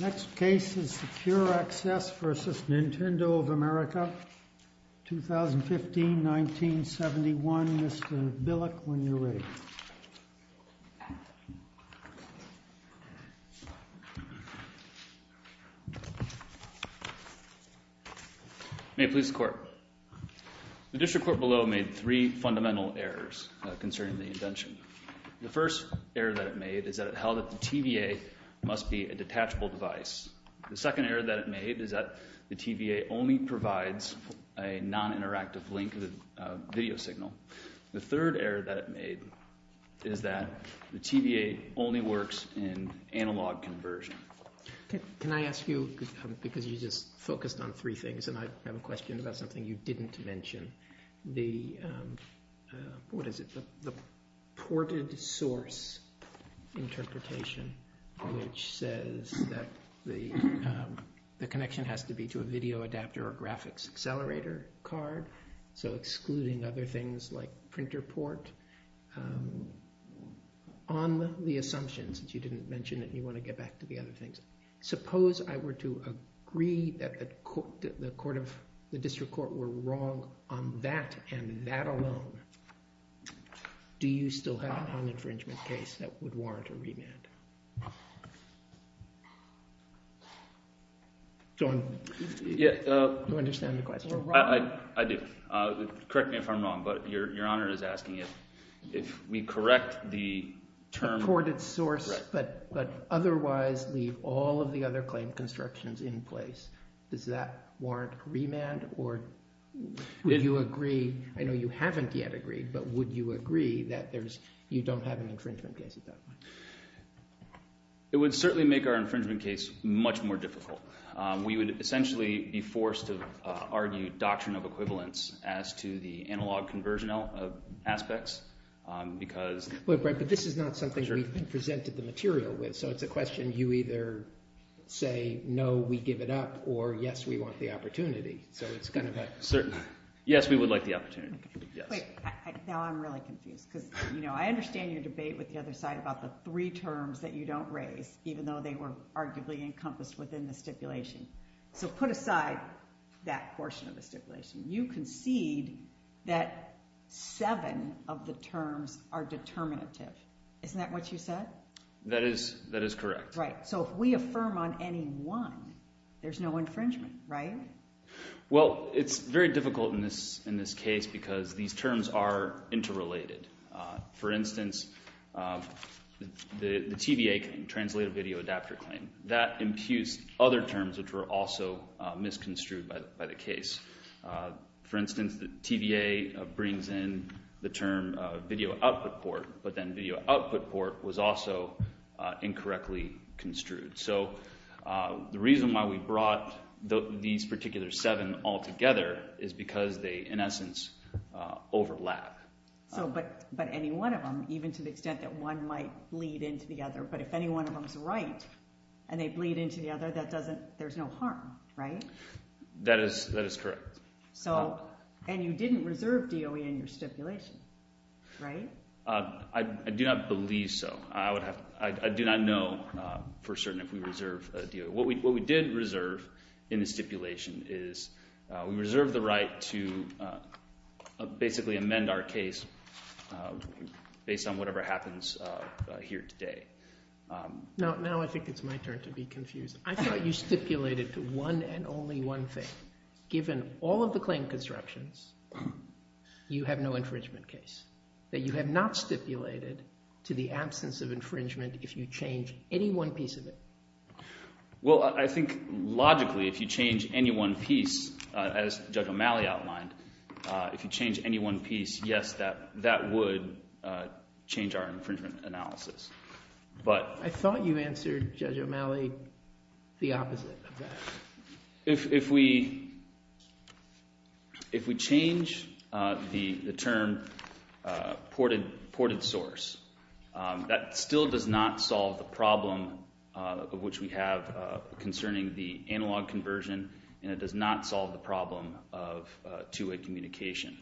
Next case is Secure Access v. Nintendo of America, 2015-1971, Mr. Billick, when you are ready. May it please the court. The district court below made three fundamental errors concerning the invention. The first error that it made is that it held that the TVA must be a detachable device. The second error that it made is that the TVA only provides a non-interactive link video signal. The third error that it made is that the TVA only works in analog conversion. Can I ask you, because you just focused on three things and I have a question about something you didn't mention, the ported source interpretation which says that the connection has to be to a video adapter or graphics accelerator card, so excluding other things like printer port, on the assumption, since you didn't mention it and you want to get back to the other things, suppose I were to agree that the district court were wrong on that and that alone, do you still have a non-infringement case that would warrant a remand? John, do you understand the question? I do. Correct me if I'm wrong, but Your Honor is asking if we correct the term… The ported source, but otherwise leave all of the other claim constructions in place, does that warrant remand or would you agree? I know you haven't yet agreed, but would you agree that you don't have an infringement case at that point? It would certainly make our infringement case much more difficult. We would essentially be forced to argue doctrine of equivalence as to the analog conversion aspects because… But this is not something we've presented the material with, so it's a question you either say no, we give it up, or yes, we want the opportunity. Yes, we would like the opportunity. Now I'm really confused because I understand your debate with the other side about the three terms that you don't raise, even though they were arguably encompassed within the stipulation. So put aside that portion of the stipulation. You concede that seven of the terms are determinative. Isn't that what you said? That is correct. So if we affirm on any one, there's no infringement, right? Well, it's very difficult in this case because these terms are interrelated. For instance, the TVA, translated video adapter claim, that imputes other terms which were also misconstrued by the case. For instance, the TVA brings in the term video output port, but then video output port was also incorrectly construed. So the reason why we brought these particular seven all together is because they, in essence, overlap. But any one of them, even to the extent that one might bleed into the other, but if any one of them is right and they bleed into the other, there's no harm, right? That is correct. And you didn't reserve DOE in your stipulation, right? I do not believe so. I do not know for certain if we reserve DOE. What we did reserve in the stipulation is we reserved the right to basically amend our case based on whatever happens here today. Now I think it's my turn to be confused. I thought you stipulated to one and only one thing. Given all of the claim constructions, you have no infringement case, that you have not stipulated to the absence of infringement if you change any one piece of it. Well, I think logically if you change any one piece, as Judge O'Malley outlined, if you change any one piece, yes, that would change our infringement analysis. I thought you answered, Judge O'Malley, the opposite of that. If we change the term ported source, that still does not solve the problem of which we have concerning the analog conversion, and it does not solve the problem of two-way communication.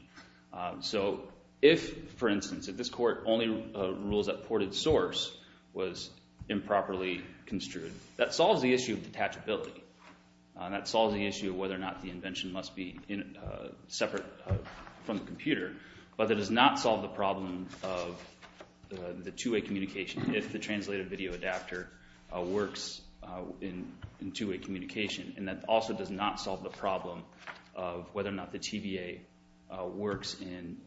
So if, for instance, if this court only rules that ported source was improperly construed, that solves the issue of detachability. That solves the issue of whether or not the invention must be separate from the computer. But that does not solve the problem of the two-way communication if the translated video adapter works in two-way communication. And that also does not solve the problem of whether or not the TVA works in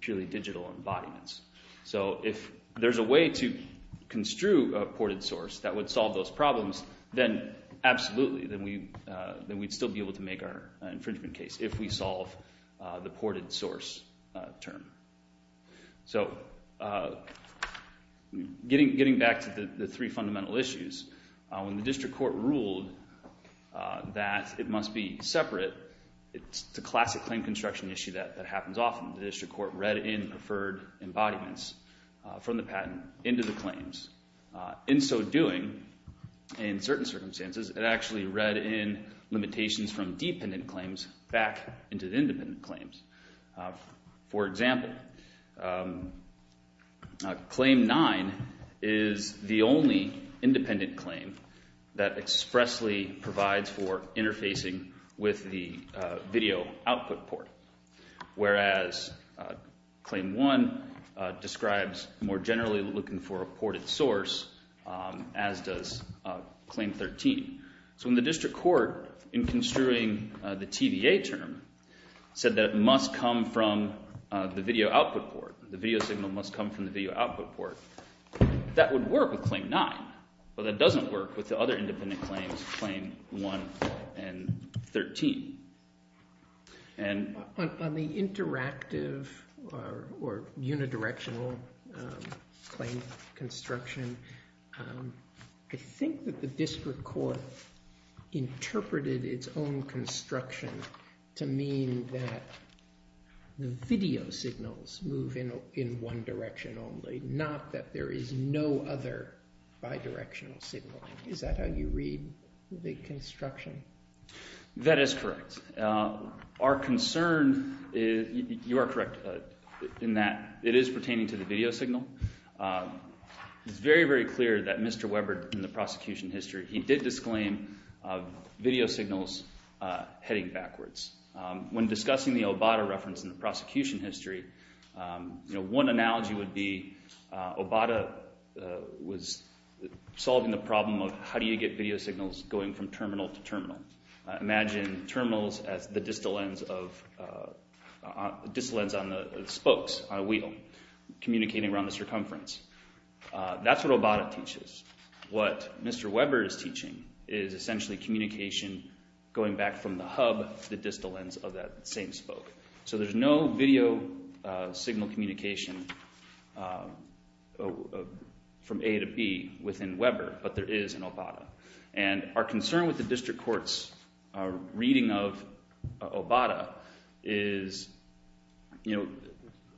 purely digital embodiments. So if there's a way to construe a ported source that would solve those problems, then absolutely. Then we'd still be able to make our infringement case if we solve the ported source term. So getting back to the three fundamental issues, when the district court ruled that it must be separate, it's the classic claim construction issue that happens often. The district court read in preferred embodiments from the patent into the claims. In so doing, in certain circumstances, it actually read in limitations from dependent claims back into the independent claims. For example, Claim 9 is the only independent claim that expressly provides for interfacing with the video output port. Whereas Claim 1 describes more generally looking for a ported source, as does Claim 13. So when the district court, in construing the TVA term, said that it must come from the video output port, the video signal must come from the video output port, that would work with Claim 9. But that doesn't work with the other independent claims, Claim 1 and 13. On the interactive or unidirectional claim construction, I think that the district court interpreted its own construction to mean that the video signals move in one direction only, not that there is no other bidirectional signal. Is that how you read the construction? That is correct. Our concern, you are correct in that it is pertaining to the video signal. It's very, very clear that Mr. Webber, in the prosecution history, he did disclaim video signals heading backwards. When discussing the Obata reference in the prosecution history, one analogy would be Obata was solving the problem of how do you get video signals going from terminal to terminal. Imagine terminals as the distal lens on the spokes on a wheel, communicating around the circumference. That's what Obata teaches. What Mr. Webber is teaching is essentially communication going back from the hub, the distal lens of that same spoke. So there's no video signal communication from A to B within Webber, but there is in Obata. And our concern with the district court's reading of Obata is, you know,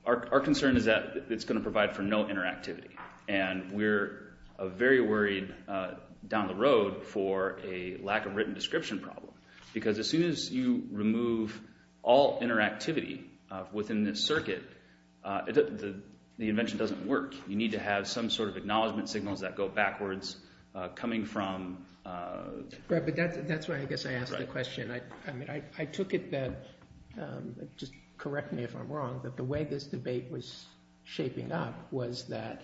our concern is that it's going to provide for no interactivity. And we're very worried down the road for a lack of written description problem. Because as soon as you remove all interactivity within this circuit, the invention doesn't work. You need to have some sort of acknowledgment signals that go backwards coming from— But that's why I guess I asked the question. I took it that—just correct me if I'm wrong—that the way this debate was shaping up was that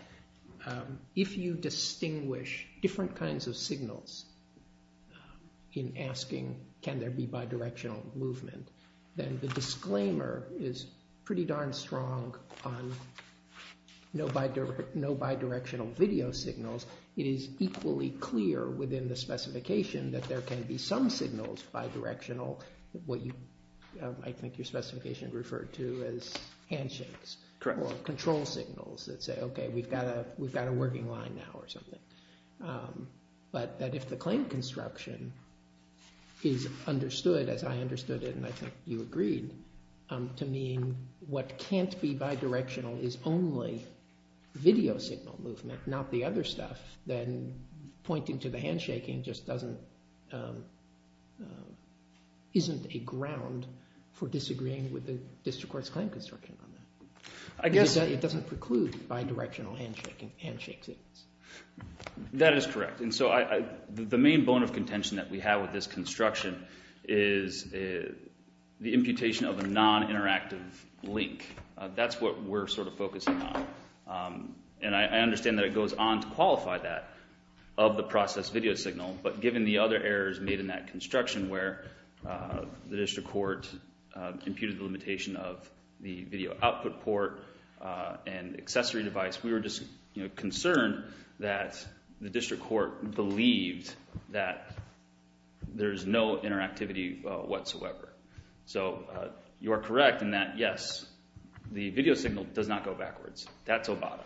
if you distinguish different kinds of signals in asking can there be bidirectional movement, then the disclaimer is pretty darn strong on no bidirectional video signals. It is equally clear within the specification that there can be some signals bidirectional, what you—I think your specification referred to as handshakes. Correct. Or control signals that say, okay, we've got a working line now or something. But that if the claim construction is understood as I understood it and I think you agreed to mean what can't be bidirectional is only video signal movement, not the other stuff, then pointing to the handshaking just doesn't—isn't a ground for disagreeing with the district court's claim construction on that. I guess— That is correct. And so the main bone of contention that we have with this construction is the imputation of a non-interactive link. That's what we're sort of focusing on. And I understand that it goes on to qualify that of the process video signal. But given the other errors made in that construction where the district court imputed the limitation of the video output port and accessory device, we were just concerned that the district court believed that there's no interactivity whatsoever. So you are correct in that, yes, the video signal does not go backwards. That's Obama.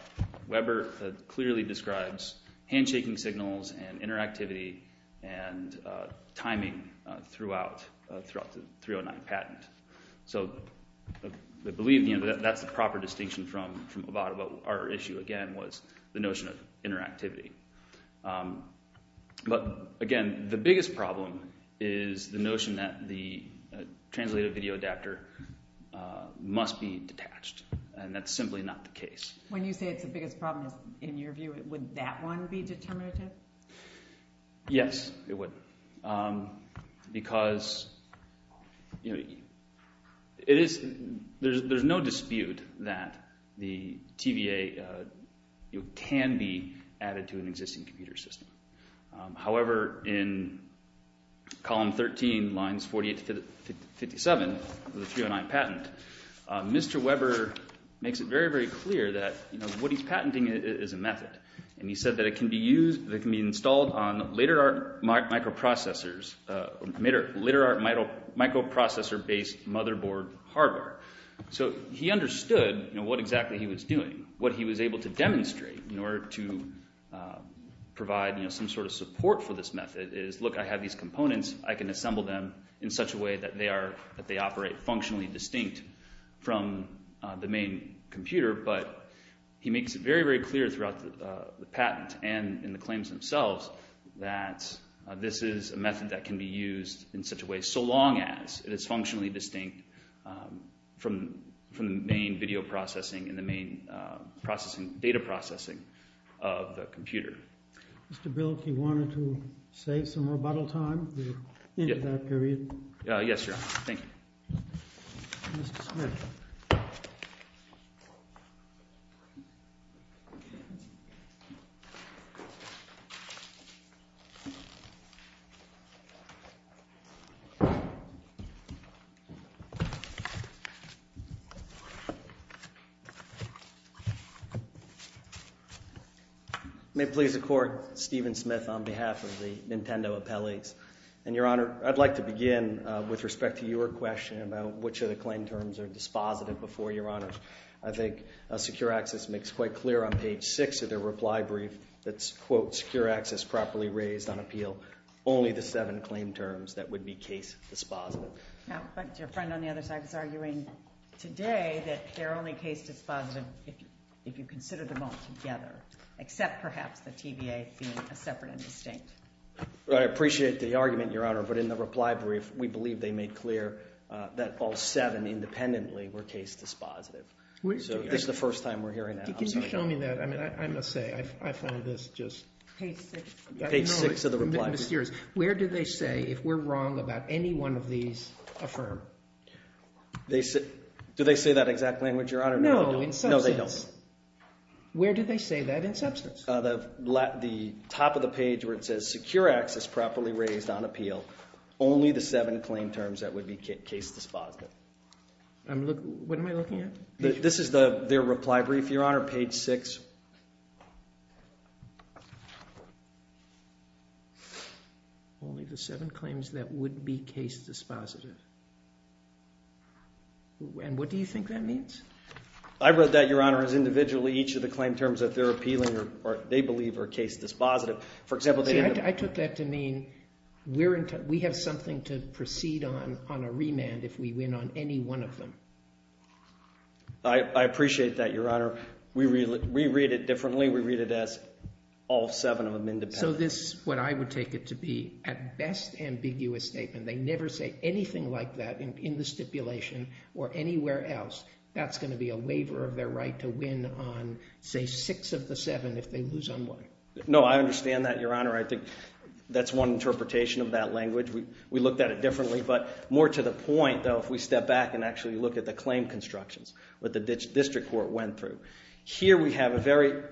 Weber clearly describes handshaking signals and interactivity and timing throughout the 309 patent. So I believe that's the proper distinction from Obama. But our issue, again, was the notion of interactivity. But, again, the biggest problem is the notion that the translated video adapter must be detached, and that's simply not the case. When you say it's the biggest problem, in your view, would that one be determinative? Yes, it would because there's no dispute that the TVA can be added to an existing computer system. However, in column 13, lines 48 to 57 of the 309 patent, Mr. Weber makes it very, very clear that what he's patenting is a method. And he said that it can be installed on later microprocessor-based motherboard hardware. So he understood what exactly he was doing. What he was able to demonstrate in order to provide some sort of support for this method is, look, I have these components. I can assemble them in such a way that they operate functionally distinct from the main computer. But he makes it very, very clear throughout the patent and in the claims themselves that this is a method that can be used in such a way, so long as it is functionally distinct from the main video processing and the main data processing of the computer. Mr. Bill, if you wanted to save some rebuttal time, we're into that period. Mr. Smith. May it please the Court, Stephen Smith on behalf of the Nintendo Appellees. And, Your Honor, I'd like to begin with respect to your question about which of the claim terms are dispositive before, Your Honor. I think Secure Access makes quite clear on page 6 of their reply brief that's, quote, Secure Access properly raised on appeal only the seven claim terms that would be case dispositive. But your friend on the other side is arguing today that they're only case dispositive if you consider them all together, except perhaps the TVA being a separate and distinct. Well, I appreciate the argument, Your Honor. But in the reply brief, we believe they made clear that all seven independently were case dispositive. So this is the first time we're hearing that. Can you show me that? I mean, I must say I find this just… Page 6. Page 6 of the reply brief. Where do they say, if we're wrong about any one of these, affirm? Do they say that exact language, Your Honor? No, in substance. No, they don't. Where do they say that in substance? The top of the page where it says Secure Access properly raised on appeal only the seven claim terms that would be case dispositive. What am I looking at? This is their reply brief, Your Honor, page 6. Only the seven claims that would be case dispositive. And what do you think that means? I wrote that, Your Honor, as individually each of the claim terms that they're appealing or they believe are case dispositive. For example… See, I took that to mean we have something to proceed on on a remand if we win on any one of them. I appreciate that, Your Honor. We read it differently. We read it as all seven of them independently. So this is what I would take it to be, at best, ambiguous statement. They never say anything like that in the stipulation or anywhere else. That's going to be a waiver of their right to win on, say, six of the seven if they lose on one. No, I understand that, Your Honor. I think that's one interpretation of that language. We looked at it differently. But more to the point, though, if we step back and actually look at the claim constructions, what the district court went through. Here we have a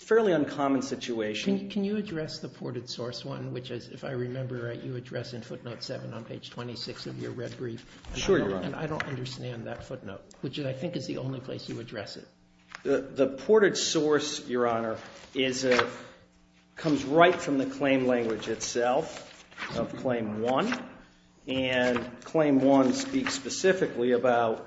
fairly uncommon situation. Can you address the ported source one, which, if I remember right, you address in footnote 7 on page 26 of your red brief? Sure, Your Honor. And I don't understand that footnote, which I think is the only place you address it. The ported source, Your Honor, comes right from the claim language itself of Claim 1. And Claim 1 speaks specifically about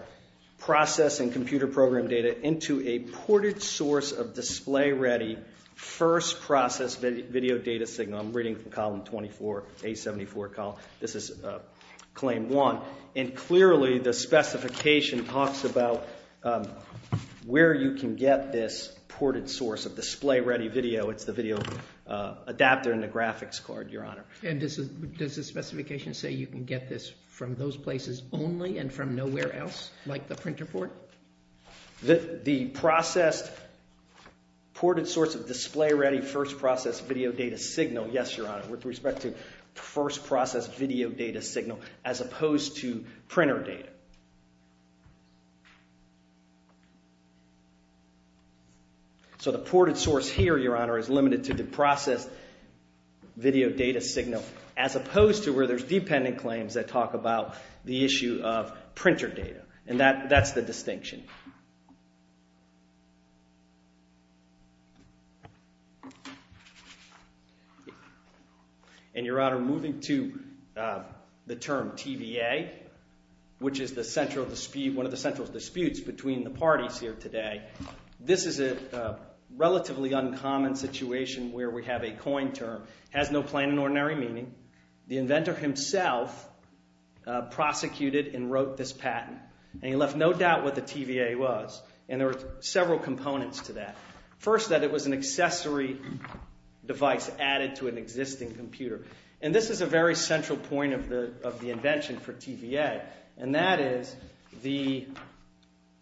processing computer program data into a ported source of display-ready first-process video data signal. I'm reading from Column 24, A74. This is Claim 1. And clearly the specification talks about where you can get this ported source of display-ready video. It's the video adapter in the graphics card, Your Honor. And does the specification say you can get this from those places only and from nowhere else, like the printer port? The processed ported source of display-ready first-process video data signal, yes, Your Honor, with respect to first-process video data signal, as opposed to printer data. So the ported source here, Your Honor, is limited to the processed video data signal, as opposed to where there's dependent claims that talk about the issue of printer data. And that's the distinction. And, Your Honor, moving to the term TVA, which is one of the central disputes between the parties here today. This is a relatively uncommon situation where we have a coin term. It has no plain and ordinary meaning. The inventor himself prosecuted and wrote this patent. And he left no doubt what the TVA was. And there were several components to that. First, that it was an accessory device added to an existing computer. And this is a very central point of the invention for TVA. And that is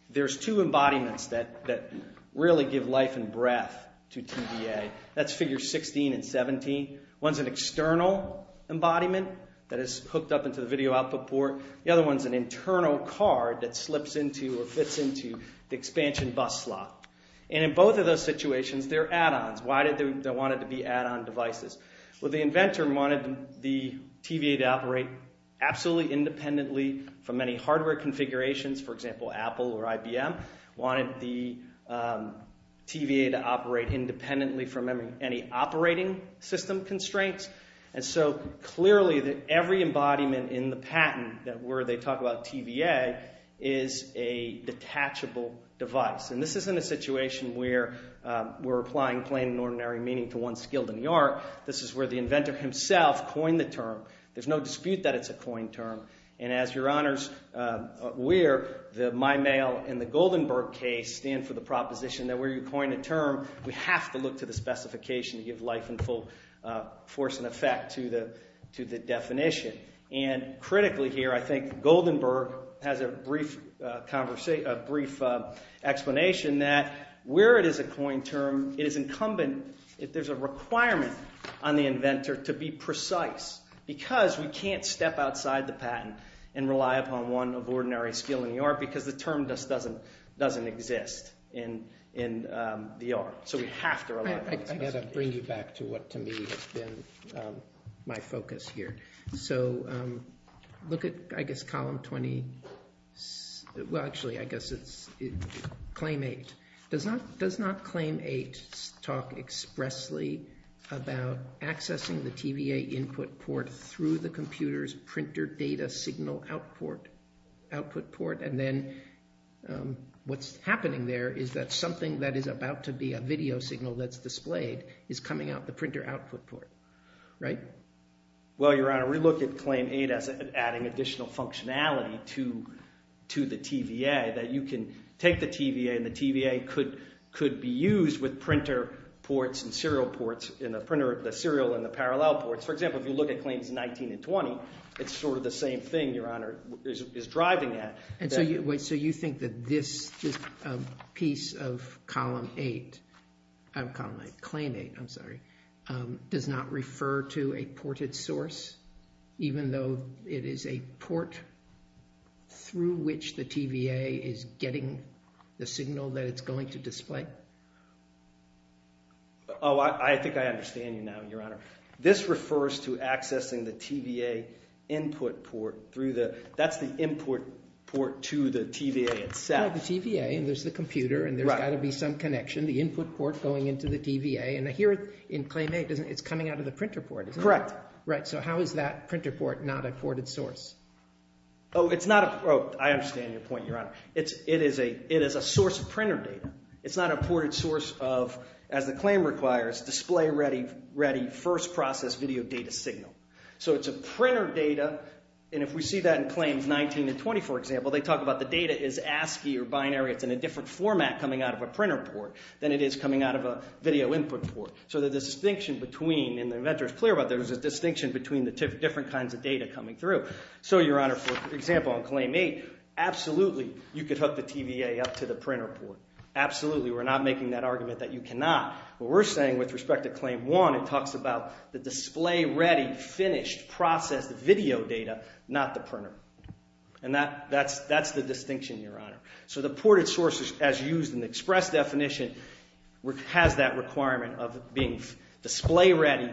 there's two embodiments that really give life and breath to TVA. That's Figure 16 and 17. One's an external embodiment that is hooked up into the video output port. The other one's an internal card that slips into or fits into the expansion bus slot. And in both of those situations, they're add-ons. Why did they want it to be add-on devices? Well, the inventor wanted the TVA to operate absolutely independently from any hardware configurations. For example, Apple or IBM wanted the TVA to operate independently from any operating system constraints. And so clearly every embodiment in the patent where they talk about TVA is a detachable device. And this isn't a situation where we're applying plain and ordinary meaning to one skilled in the art. This is where the inventor himself coined the term. There's no dispute that it's a coin term. And as Your Honors, we're, the MyMail and the Goldenberg case stand for the proposition that where you coin a term, we have to look to the specification to give life and full force and effect to the definition. And critically here, I think Goldenberg has a brief explanation that where it is a coin term, it is incumbent, there's a requirement on the inventor to be precise because we can't step outside the patent and rely upon one of ordinary skill in the art because the term just doesn't exist in the art. So we have to rely on the specification. I've got to bring you back to what to me has been my focus here. So look at, I guess, Column 20. Well, actually, I guess it's Claim 8. Does not Claim 8 talk expressly about accessing the TVA input port through the computer's printer data signal output port? And then what's happening there is that something that is about to be a video signal that's displayed is coming out the printer output port, right? Well, Your Honor, we look at Claim 8 as adding additional functionality to the TVA, that you can take the TVA and the TVA could be used with printer ports and serial ports in the printer, the serial and the parallel ports. For example, if you look at Claims 19 and 20, it's sort of the same thing Your Honor is driving at. And so you think that this piece of Claim 8 does not refer to a ported source, even though it is a port through which the TVA is getting the signal that it's going to display? Oh, I think I understand you now, Your Honor. This refers to accessing the TVA input port through the – that's the input port to the TVA itself. The TVA, and there's the computer, and there's got to be some connection, the input port going into the TVA. And here in Claim 8, it's coming out of the printer port, isn't it? Correct. Right. So how is that printer port not a ported source? Oh, it's not a – oh, I understand your point, Your Honor. It is a source of printer data. It's not a ported source of, as the claim requires, display-ready, first-process video data signal. So it's a printer data, and if we see that in Claims 19 and 20, for example, they talk about the data is ASCII or binary. It's in a different format coming out of a printer port than it is coming out of a video input port. So the distinction between – and the inventor is clear about this – there's a distinction between the different kinds of data coming through. So, Your Honor, for example, on Claim 8, absolutely, you could hook the TVA up to the printer port. Absolutely, we're not making that argument that you cannot. What we're saying with respect to Claim 1, it talks about the display-ready, finished, processed video data, not the printer. And that's the distinction, Your Honor. So the ported source, as used in the express definition, has that requirement of being display-ready,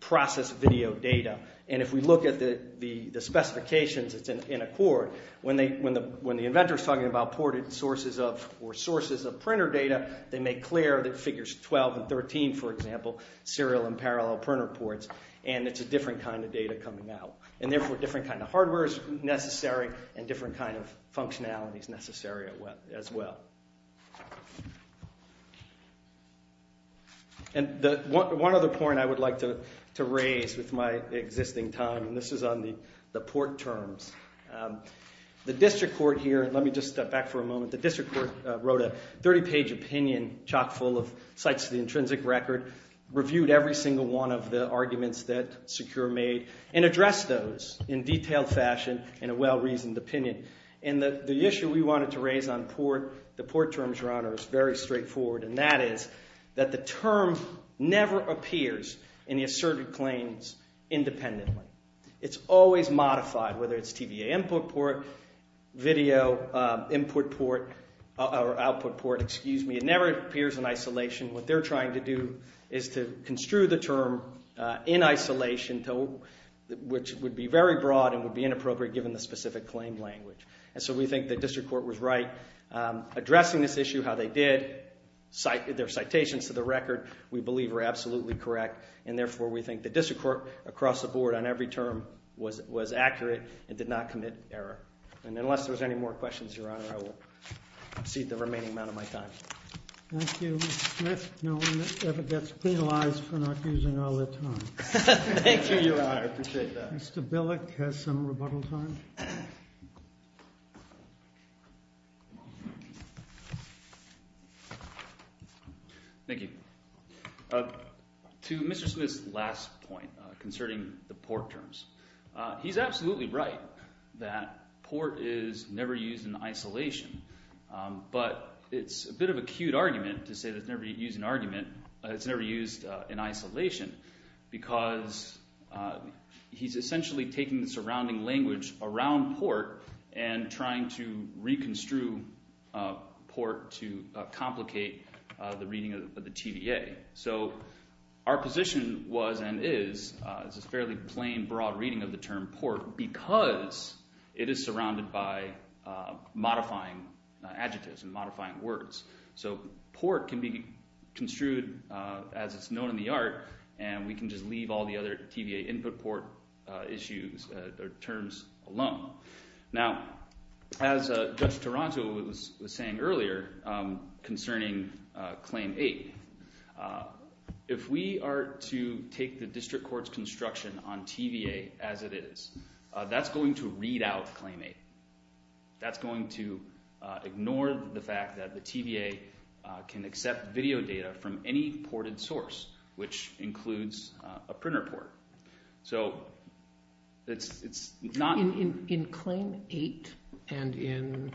processed video data. And if we look at the specifications, it's in accord. When the inventor is talking about ported sources of – or sources of – printer data, they make clear that figures 12 and 13, for example, serial and parallel printer ports. And it's a different kind of data coming out. And therefore, different kind of hardware is necessary and different kind of functionality is necessary as well. And one other point I would like to raise with my existing time, and this is on the port terms. The district court here – let me just step back for a moment. The district court wrote a 30-page opinion chock full of sites of the intrinsic record, reviewed every single one of the arguments that Secure made, and addressed those in detailed fashion in a well-reasoned opinion. And the issue we wanted to raise on port, the port terms, Your Honor, is very straightforward, and that is that the term never appears in the asserted claims independently. It's always modified, whether it's TVA input port, video input port – or output port, excuse me. It never appears in isolation. What they're trying to do is to construe the term in isolation, which would be very broad and would be inappropriate given the specific claim language. And so we think the district court was right. Addressing this issue how they did, their citations to the record, we believe are absolutely correct. And therefore, we think the district court across the board on every term was accurate and did not commit error. And unless there's any more questions, Your Honor, I will cede the remaining amount of my time. Thank you, Mr. Smith. No one ever gets penalized for not using all their time. Thank you, Your Honor. I appreciate that. Mr. Billick has some rebuttal time. Thank you. To Mr. Smith's last point concerning the port terms, he's absolutely right that port is never used in isolation. But it's a bit of a cute argument to say it's never used in argument – it's never used in isolation because he's essentially taking the surrounding language around port and trying to reconstrue port to complicate the reading of the TVA. So our position was and is it's a fairly plain, broad reading of the term port because it is surrounded by modifying adjectives and modifying words. So port can be construed as it's known in the art, and we can just leave all the other TVA input port issues or terms alone. Now, as Judge Taranto was saying earlier concerning Claim 8, if we are to take the district court's construction on TVA as it is, that's going to read out Claim 8. That's going to ignore the fact that the TVA can accept video data from any ported source, which includes a printer port. So it's not – In Claim 8 and in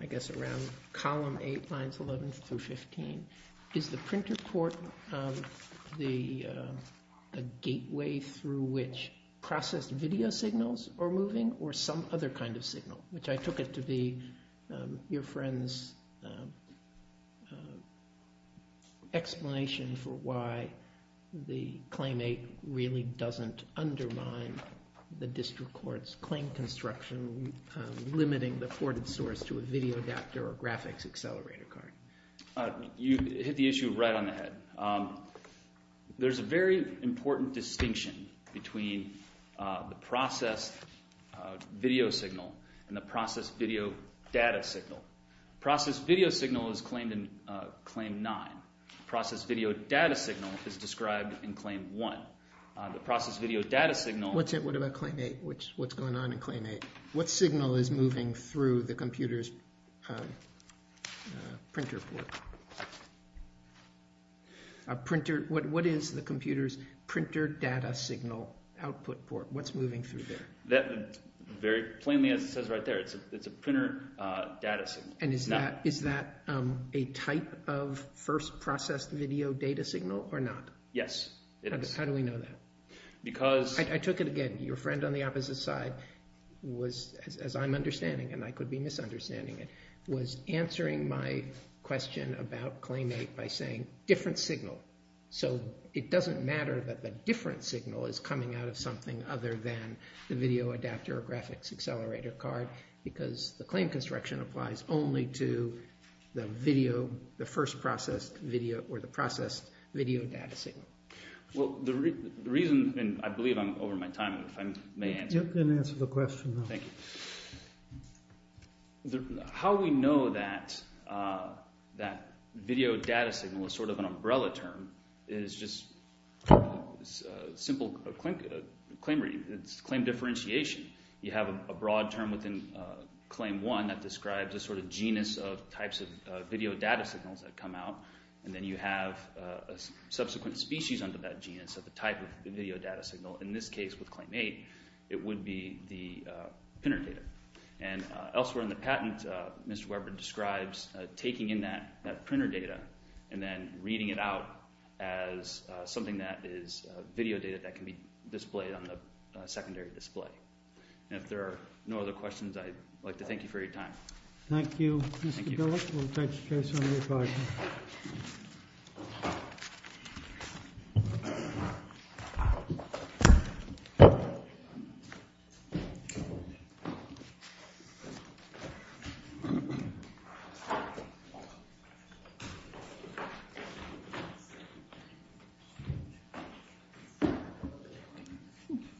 I guess around column 8, lines 11 through 15, is the printer port a gateway through which processed video signals are moving or some other kind of signal? Which I took it to be your friend's explanation for why the Claim 8 really doesn't undermine the district court's claim construction, limiting the ported source to a video adapter or graphics accelerator card. You hit the issue right on the head. There's a very important distinction between the processed video signal and the processed video data signal. Processed video signal is claimed in Claim 9. Processed video data signal is described in Claim 1. The processed video data signal – What about Claim 8? What's going on in Claim 8? What signal is moving through the computer's printer port? A printer – what is the computer's printer data signal output port? What's moving through there? Very plainly, as it says right there, it's a printer data signal. And is that a type of first processed video data signal or not? Yes, it is. How do we know that? Because – I took it again. Your friend on the opposite side was, as I'm understanding, and I could be misunderstanding it, was answering my question about Claim 8 by saying different signal. So it doesn't matter that the different signal is coming out of something other than the video adapter or graphics accelerator card because the claim construction applies only to the video, the first processed video or the processed video data signal. Well, the reason – and I believe I'm over my time. If I may answer. You can answer the question now. Thank you. How we know that video data signal is sort of an umbrella term is just simple claim differentiation. You have a broad term within Claim 1 that describes a sort of genus of types of video data signals that come out. And then you have a subsequent species under that genus of the type of video data signal. In this case with Claim 8, it would be the printer data. And elsewhere in the patent, Mr. Weber describes taking in that printer data and then reading it out as something that is video data that can be displayed on the secondary display. And if there are no other questions, I'd like to thank you for your time. Thank you.